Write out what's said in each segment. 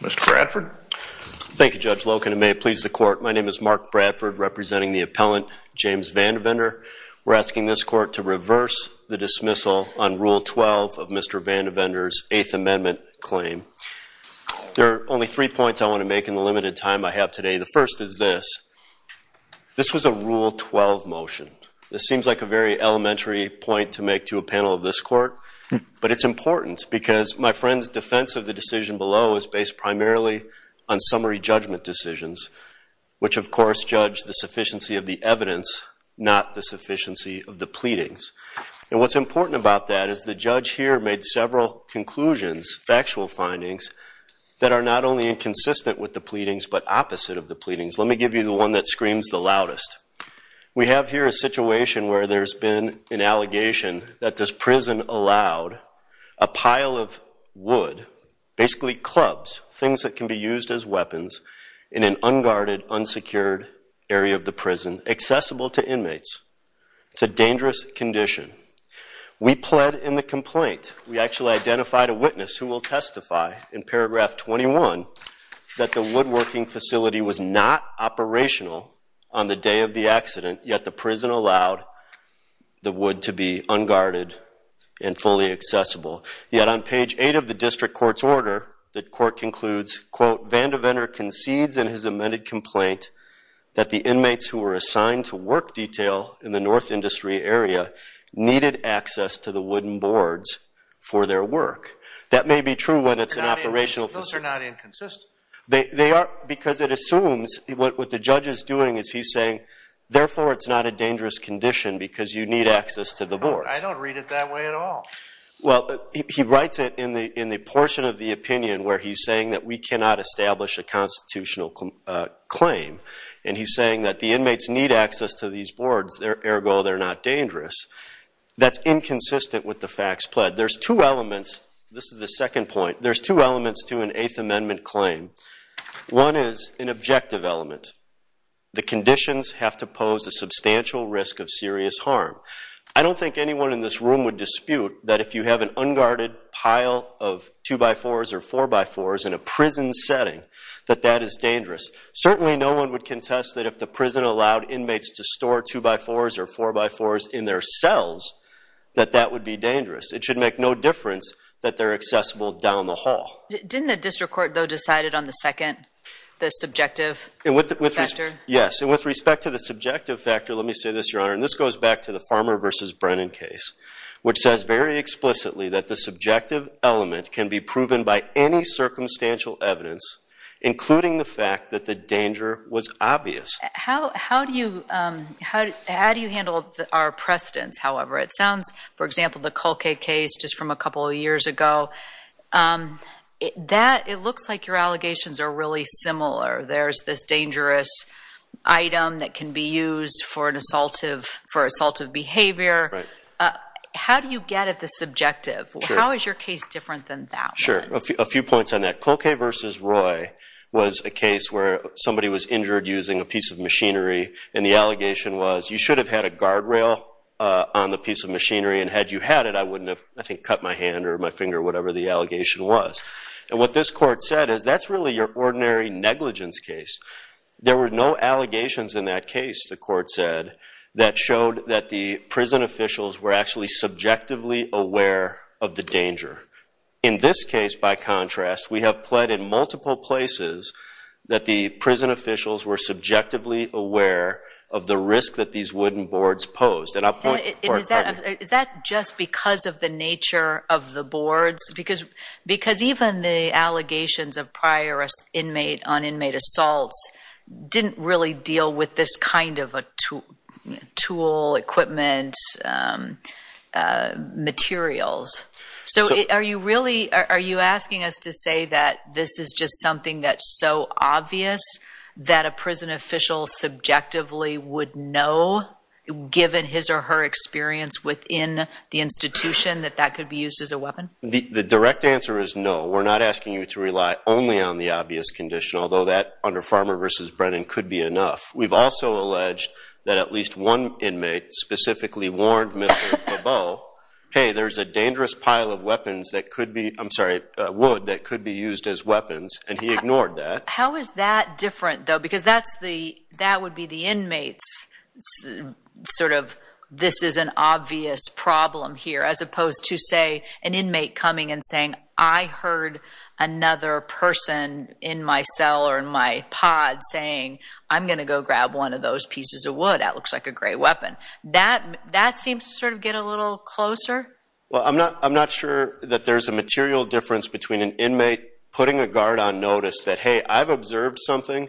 Mr. Bradford. Thank you Judge Loken and may it please the court. My name is Mark Bradford representing the appellant James Vandevender. We're asking this court to reverse the dismissal on Rule 12 of Mr. Vandevender's Eighth Amendment claim. There are only three points I want to make in the limited time I have today. The first is this. This was a Rule 12 motion. This seems like a very elementary point to make to a panel of this court, but it's important because my friend's defense of the decision below is based primarily on summary judgment decisions, which of course judge the sufficiency of the evidence, not the sufficiency of the pleadings. And what's important about that is the judge here made several conclusions, factual findings, that are not only inconsistent with the pleadings but opposite of the pleadings. Let me give you the one that screams the loudest. We have here a situation where there's been an allegation that this prison allowed a pile of wood, basically clubs, things that can be used as weapons in an unguarded, unsecured area of the prison accessible to inmates. It's a dangerous condition. We pled in the complaint. We actually identified a witness who will testify in paragraph 21 that the woodworking facility was not operational on the day of the accident, yet the prison allowed the wood to be fully accessible. Yet on page 8 of the district court's order, the court concludes, quote, Vandevenor concedes in his amended complaint that the inmates who were assigned to work detail in the north industry area needed access to the wooden boards for their work. That may be true when it's an operational facility. Those are not inconsistent. They are because it assumes what the judge is doing is he's saying, therefore it's not a dangerous condition because you need access to the boards. I don't read it that way at all. Well, he writes it in the portion of the opinion where he's saying that we cannot establish a constitutional claim, and he's saying that the inmates need access to these boards, ergo they're not dangerous. That's inconsistent with the facts pled. There's two elements. This is the second point. There's two elements to an Eighth Amendment claim. One is an objective element. The conditions have to harm. I don't think anyone in this room would dispute that if you have an unguarded pile of two-by-fours or four-by-fours in a prison setting that that is dangerous. Certainly no one would contest that if the prison allowed inmates to store two-by-fours or four-by-fours in their cells that that would be dangerous. It should make no difference that they're accessible down the hall. Didn't the district court though decided on the second, the subjective factor? Yes, and with respect to the subjective factor, let me say this, Your Honor, and this goes back to the Farmer v. Brennan case, which says very explicitly that the subjective element can be proven by any circumstantial evidence, including the fact that the danger was obvious. How do you, how do you handle our precedence, however? It sounds, for example, the Colquet case just from a couple of years ago, that it looks like your allegations are really similar. There's this dangerous item that can be used for an assaultive, for assaultive behavior. How do you get at the subjective? How is your case different than that? Sure, a few points on that. Colquet v. Roy was a case where somebody was injured using a piece of machinery and the allegation was you should have had a guardrail on the piece of machinery and had you had it I wouldn't have, I think, cut my hand or my finger or whatever the allegation was. And what this court said is that's really your ordinary negligence case. There were no allegations in that case, the court said, that showed that the prison officials were actually subjectively aware of the danger. In this case, by contrast, we have pled in multiple places that the prison officials were subjectively aware of the risk that these wooden boards posed. And I'll point to the court finding. Is that just because of the nature of the boards? Because, because even the allegations of prior inmate on inmate assaults didn't really deal with this kind of a tool, equipment, materials. So are you really, are you asking us to say that this is just something that's so obvious that a prison official subjectively would know, given his or her experience within the institution, that that could be used as a weapon? The direct answer is no. We're not asking you to rely only on the obvious condition, although that under Farmer versus Brennan could be enough. We've also alleged that at least one inmate specifically warned Mr. Bebeau, hey there's a dangerous pile of weapons that could be, I'm sorry, wood that could be used as weapons, and he ignored that. How is that different though? Because that's the, that would be the inmates sort of this is an obvious problem here, as opposed to say an inmate coming and saying I heard another person in my cell or in my pod saying I'm gonna go grab one of those pieces of wood, that looks like a great weapon. That, that seems to sort of get a little closer. Well I'm not, I'm not sure that there's a material difference between an inmate putting a guard on notice that hey I've observed something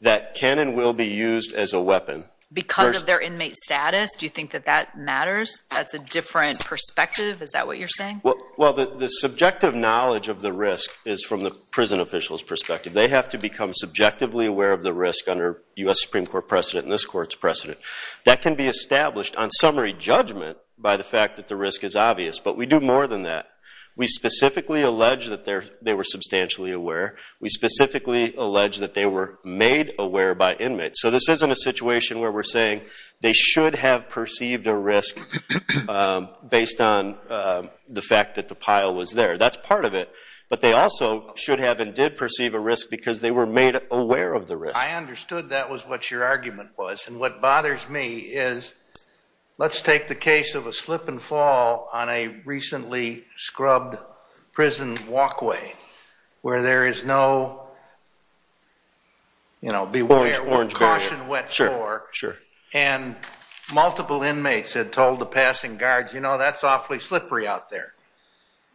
that can and will be used as a weapon. Because of their inmate status? Do you think that that matters? That's a different perspective? Is that what you're saying? Well, well the subjective knowledge of the risk is from the prison officials perspective. They have to become subjectively aware of the risk under U.S. Supreme Court precedent and this court's precedent. That can be established on summary judgment by the fact that the risk is obvious, but we do more than that. We specifically allege that there, they were substantially aware. We specifically allege that they were made aware by inmates. So this isn't a perceived a risk based on the fact that the pile was there. That's part of it, but they also should have and did perceive a risk because they were made aware of the risk. I understood that was what your argument was and what bothers me is let's take the case of a slip-and-fall on a recently scrubbed prison walkway where there is no, you know, beware or caution wet floor and multiple inmates had told the passing guards, you know, that's awfully slippery out there.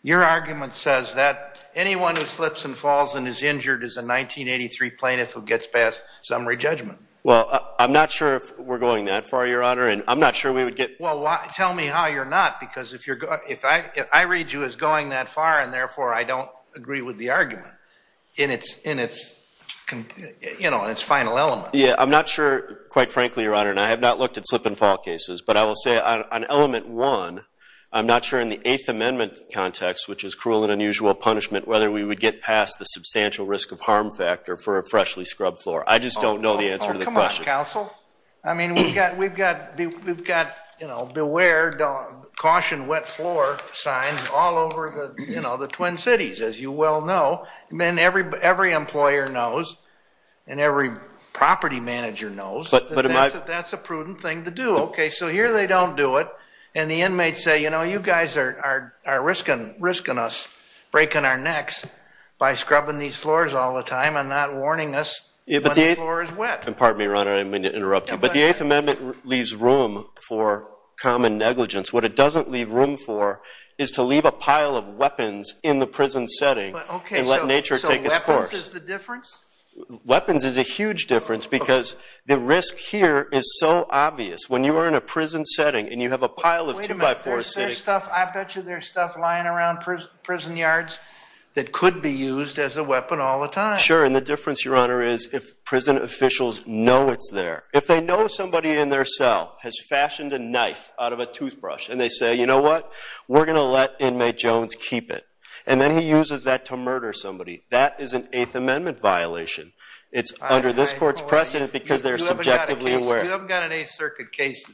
Your argument says that anyone who slips and falls and is injured is a 1983 plaintiff who gets past summary judgment. Well, I'm not sure if we're going that far, Your Honor, and I'm not sure we would get... Well, tell me how you're not because if I read you as going that far and therefore I don't agree with the argument in its, you know, in its final element. Yeah, I'm not sure quite frankly, Your Honor, and I have not looked at slip-and-fall cases, but I will say on element one, I'm not sure in the Eighth Amendment context, which is cruel and unusual punishment, whether we would get past the substantial risk of harm factor for a freshly scrubbed floor. I just don't know the answer to the question. Oh, come on, counsel. I mean, we've got, we've got, we've got, you know, beware, caution wet floor signs all over the, you know, the Twin Cities, as you well know, and every employer knows and every property manager knows that that's a prudent thing to do. Okay, so here they don't do it and the inmates say, you know, you guys are risking us breaking our necks by scrubbing these floors all the But the Eighth Amendment leaves room for common negligence. What it doesn't leave room for is to leave a pile of weapons in the prison setting and let nature take its course. Weapons is a huge difference because the risk here is so obvious. When you are in a prison setting and you have a pile of two-by-fours sitting there. I bet you there's stuff lying around prison yards that could be used as a weapon all the time. Sure, and the difference, Your Honor, is if prison officials know it's there. If they know somebody in their cell has fashioned a knife out of a toothbrush and they say, you know what, we're gonna let inmate Jones keep it. And then he uses that to murder somebody. That is an Eighth Amendment violation. It's under this court's precedent because they're subjectively aware. You haven't got an Eighth Circuit case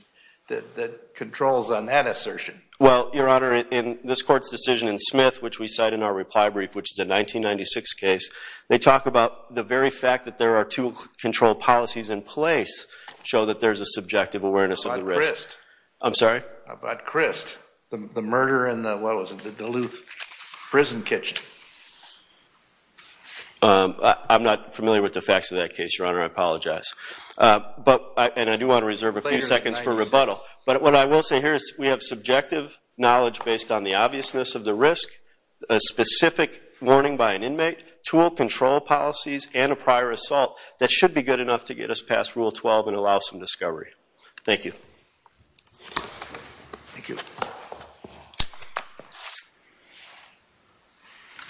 that controls on that assertion. Well, Your Honor, in this court's decision in Smith, which we cite in our reply brief, which is a 1996 case, they talk about the very fact that there are two control policies in place show that there's a subjective awareness of the risk. About Crist. I'm sorry? About Crist. The murder in the, what was it, the Duluth prison kitchen. I'm not familiar with the facts of that case, Your Honor. I apologize. But, and I do want to reserve a few seconds for rebuttal, but what I will say here is we have subjective knowledge based on the obviousness of the risk, a specific warning by an inmate, tool control policies, and a prior assault that should be good enough to get us past Rule 12 and allow some discovery. Thank you. Thank you.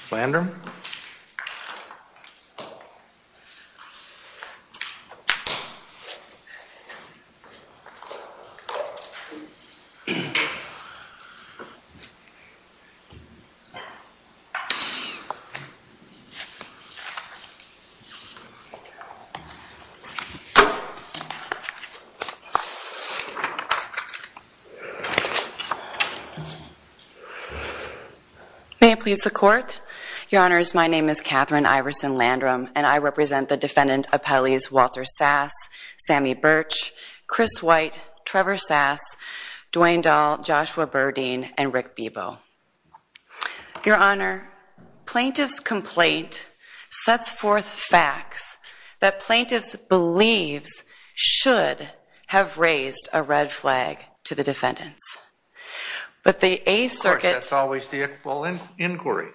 Flandre? May I please the court? Your Honors, my name is Katherine Iverson Landrum and I represent the defendant appellees Walter Sass, Sammy Birch, Chris White, Trevor Sass, Dwayne Dahl, Joshua Burdeen, and Rick Bebo. Your Honor, plaintiff's complaint sets forth facts that plaintiffs believes should have raised a red flag to the defendants. But the Eighth Circuit... Of course, that's always the equivalent inquiry.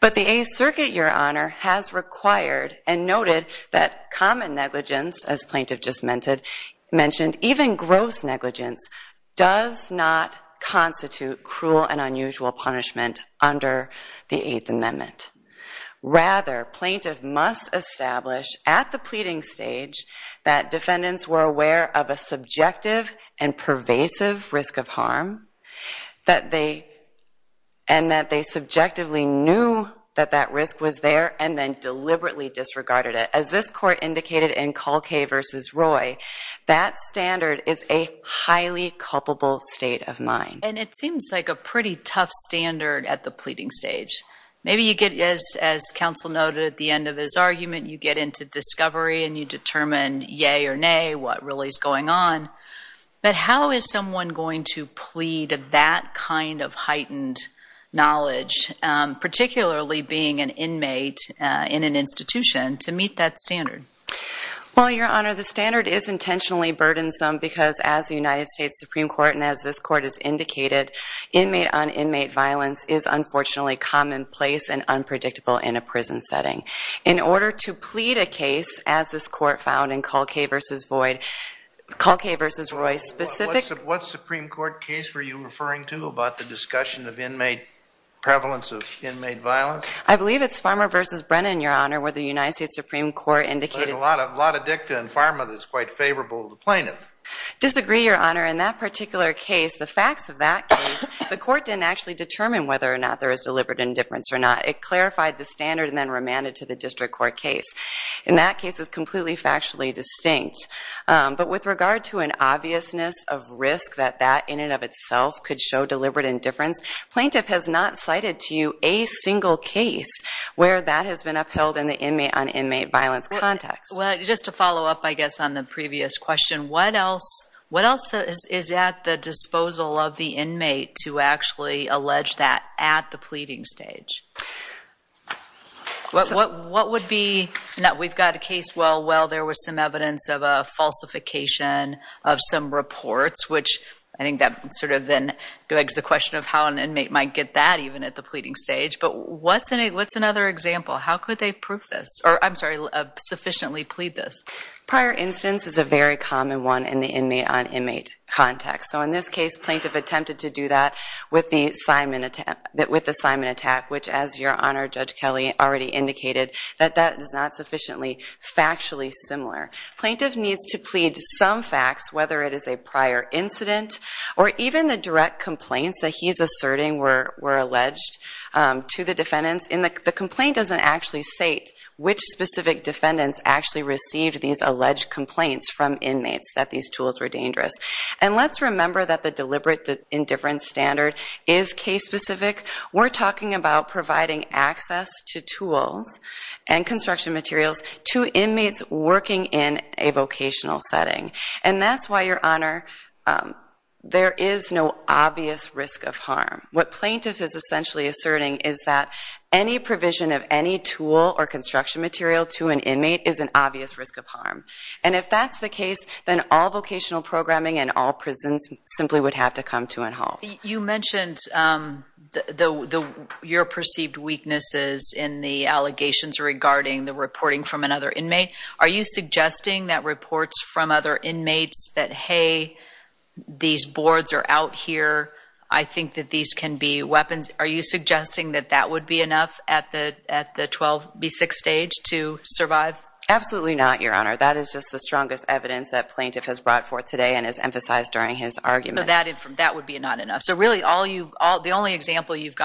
But the Eighth Circuit, Your Honor, has required and noted that common negligence, as plaintiff just mentioned, even gross negligence does not constitute cruel and unusual punishment under the Eighth Amendment. Rather, plaintiff must establish at the pleading stage that defendants were aware of a subjective and pervasive risk of harm, and that they subjectively knew that that risk was there and then deliberately disregarded it. As this court indicated in Colkay v. Roy, that standard is a highly culpable state of mind. And it seems like a pretty tough standard at the pleading stage. Maybe you get, as counsel noted at the end of his argument, you get into discovery and you determine yay or nay, what really is going on. But how is someone going to plead that kind of heightened knowledge, particularly being an inmate in an institution, to Well, Your Honor, the standard is intentionally burdensome because, as the United States Supreme Court and as this court has indicated, inmate on inmate violence is unfortunately commonplace and unpredictable in a prison setting. In order to plead a case, as this court found in Colkay v. Roy specific... What Supreme Court case were you referring to about the discussion of inmate prevalence of inmate violence? I believe it's Farmer v. Brennan, Your Honor. There's a lot of dicta in Farmer that's quite favorable to the plaintiff. Disagree, Your Honor. In that particular case, the facts of that case, the court didn't actually determine whether or not there is deliberate indifference or not. It clarified the standard and then remanded to the district court case. In that case is completely factually distinct. But with regard to an obviousness of risk that that in and of itself could show deliberate indifference, plaintiff has not cited to you a single case where that has been upheld in the inmate on Just to follow up, I guess, on the previous question, what else is at the disposal of the inmate to actually allege that at the pleading stage? What would be... We've got a case where there was some evidence of a falsification of some reports, which I think that sort of then begs the question of how an inmate might get that even at the pleading stage. But what's another example? How could they prove this? Or, I'm sorry, how could they sufficiently plead this? Prior instance is a very common one in the inmate-on-inmate context. So in this case, plaintiff attempted to do that with the Simon attack, which, as Your Honor, Judge Kelley already indicated, that that is not sufficiently factually similar. Plaintiff needs to plead some facts, whether it is a prior incident or even the direct complaints that he's asserting were alleged to the defendants. And the complaint doesn't actually state which specific defendants actually received these alleged complaints from inmates that these tools were dangerous. And let's remember that the deliberate indifference standard is case-specific. We're talking about providing access to tools and construction materials to inmates working in a vocational setting. And that's why, Your Honor, there is no obvious risk of harm. What plaintiff is essentially asserting is that any provision of any tool or construction material to an inmate is an obvious risk of harm. And if that's the case, then all vocational programming and all prisons simply would have to come to a halt. You mentioned your perceived weaknesses in the allegations regarding the reporting from another inmate. Are you suggesting that reports from other inmates that, hey, these boards are out here, I think that these can be weapons, are you suggesting that that would be enough at the 12B6 stage to survive? Absolutely not, Your Honor. That is just the strongest evidence that plaintiff has brought forth today and has emphasized during his argument. So that would be not enough. So really, the only example you've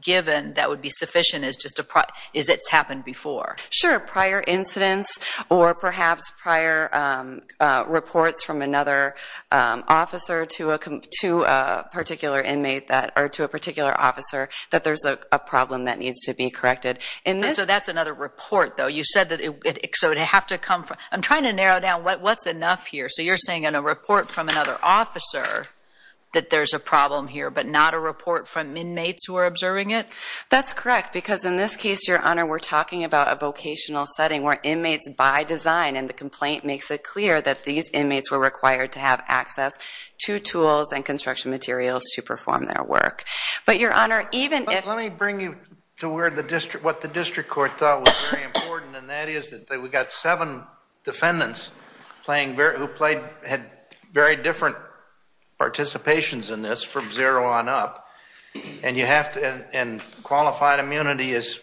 given that would be sufficient is it's happened before. Sure, prior incidents or perhaps prior reports from another officer to a particular inmate or to a particular officer that there's a problem that needs to be corrected. So that's another report though. You said that it would have to come from... I'm trying to narrow down what's enough here. So you're saying in a report from another officer that there's a problem here, but not a report from inmates who are observing it? That's correct, because in this case, Your Honor, we're talking about a vocational setting where inmates by design, and the complaint makes it clear that these inmates were required to have access to tools and construction materials to perform their work. But Your Honor, even if... Let me bring you to what the district court thought was very important, and that is that we've got seven defendants who had very different participations in this from zero on up, and qualified immunity is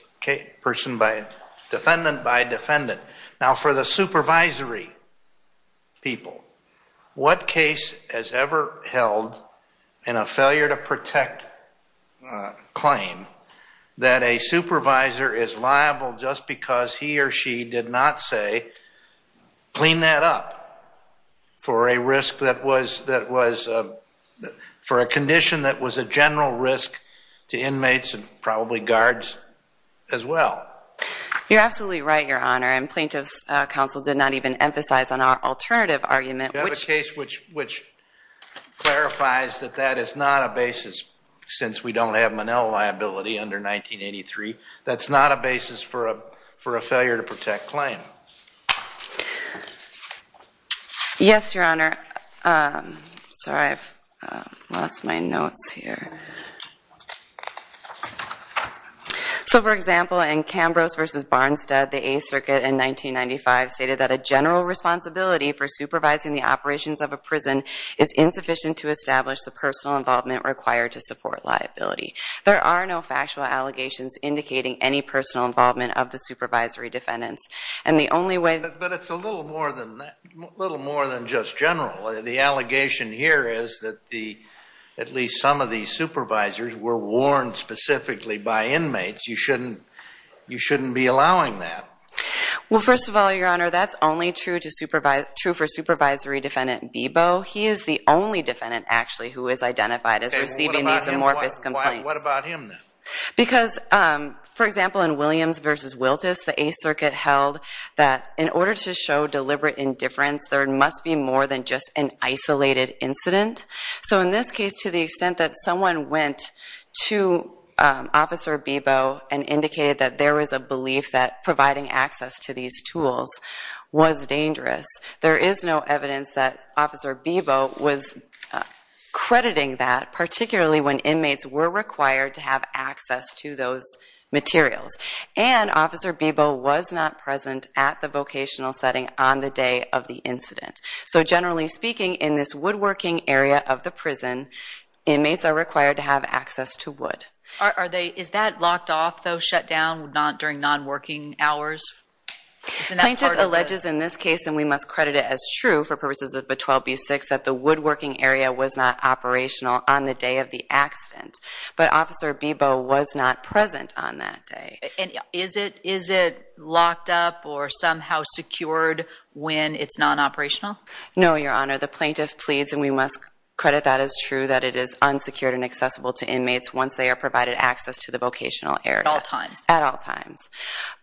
person by defendant by defendant. Now for the supervisory people, what case has ever held in a failure to protect claim that a supervisor is liable just because he or she did not say, clean that up, for a risk that was... for a condition that was a general risk to inmates and probably guards as well? You're absolutely right, Your Honor, and plaintiffs counsel did not even emphasize on our clarifies that that is not a basis, since we don't have Manel liability under 1983, that's not a basis for a failure to protect claim. Yes, Your Honor, sorry I've lost my notes here. So for example, in Cambrose versus Barnstead, the Eighth Circuit in 1995 stated that a general responsibility for supervising the operations of a prison is insufficient to establish the personal involvement required to support liability. There are no factual allegations indicating any personal involvement of the supervisory defendants, and the only way... But it's a little more than that, a little more than just general. The allegation here is that at least some of these supervisors were warned specifically by inmates. You shouldn't be allowing that. Well, first of all, Your Honor, that's only true to for supervisory defendant Bebo. He is the only defendant actually who is identified as receiving these amorphous complaints. What about him? Because, for example, in Williams versus Wiltus, the Eighth Circuit held that in order to show deliberate indifference, there must be more than just an isolated incident. So in this case, to the extent that someone went to Officer Bebo and indicated that there is no evidence that Officer Bebo was crediting that, particularly when inmates were required to have access to those materials, and Officer Bebo was not present at the vocational setting on the day of the incident. So generally speaking, in this woodworking area of the prison, inmates are required to have access to wood. Are they... Is that locked off, though, shut down, not during non-working hours? Plaintiff alleges in this case, and we must credit it as true for purposes of the 12b-6, that the woodworking area was not operational on the day of the accident. But Officer Bebo was not present on that day. And is it is it locked up or somehow secured when it's non-operational? No, Your Honor. The plaintiff pleads, and we must credit that as true, that it is unsecured and accessible to inmates once they are provided access to the vocational area. At all times? At all times.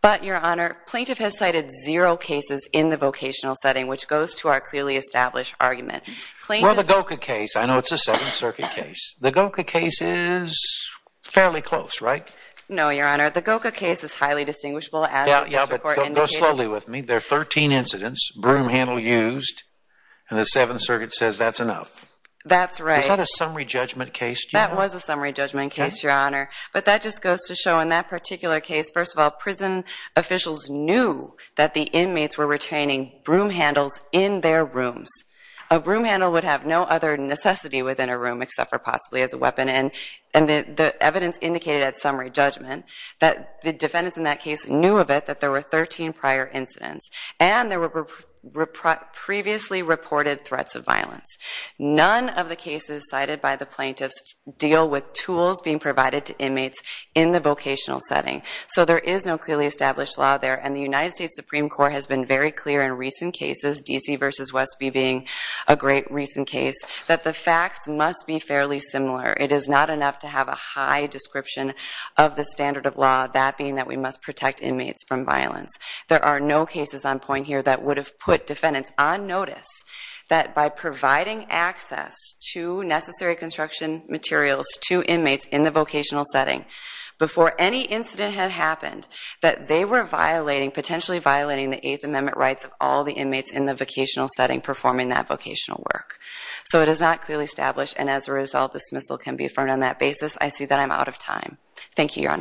But, Your Honor, plaintiff has cited zero cases in the vocational setting, which goes to our clearly established argument. Well, the Goka case, I know it's a Seventh Circuit case. The Goka case is fairly close, right? No, Your Honor. The Goka case is highly distinguishable. Yeah, but go slowly with me. There are 13 incidents, broom handle used, and the Seventh Circuit says that's enough. That's right. Is that a summary judgment case? That was a summary judgment case, Your Honor. But that just goes to show in that particular case, first of all, prison officials knew that the inmates were retaining broom handles in their rooms. A broom handle would have no other necessity within a room except for possibly as a weapon. And the evidence indicated at summary judgment that the defendants in that case knew of it, that there were 13 prior incidents. And there were previously reported threats of violence. None of the cases cited by the plaintiffs deal with tools being provided to inmates in the vocational setting. So there is no clearly established law there. And the United States Supreme Court has been very clear in recent cases, D.C. versus Westby being a great recent case, that the facts must be fairly similar. It is not enough to have a high description of the standard of law, that being that we must protect inmates from violence. There are no cases on point here that would have put construction materials to inmates in the vocational setting before any incident had happened that they were violating, potentially violating the Eighth Amendment rights of all the inmates in the vocational setting performing that vocational work. So it is not clearly established. And as a result, dismissal can be affirmed on that basis. I see that I'm out of time. Thank you, Your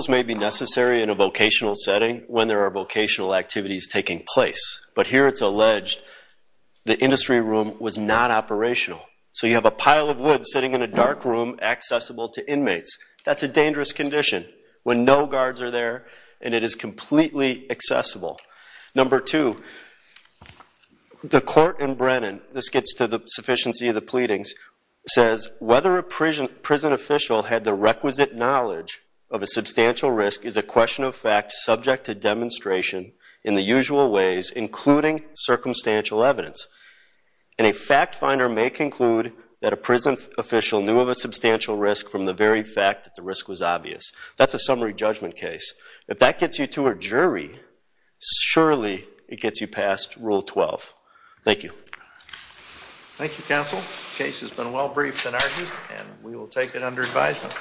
setting when there are vocational activities taking place. But here it's alleged the industry room was not operational. So you have a pile of wood sitting in a dark room accessible to inmates. That's a dangerous condition when no guards are there and it is completely accessible. Number two, the court in Brennan, this gets to the sufficiency of the pleadings, says whether a prison official had the requisite knowledge of a question of fact subject to demonstration in the usual ways, including circumstantial evidence. And a fact finder may conclude that a prison official knew of a substantial risk from the very fact that the risk was obvious. That's a summary judgment case. If that gets you to a jury, surely it gets you past Rule 12. Thank you. Thank you, counsel. Case has been well briefed and argued and we will take it under advisement.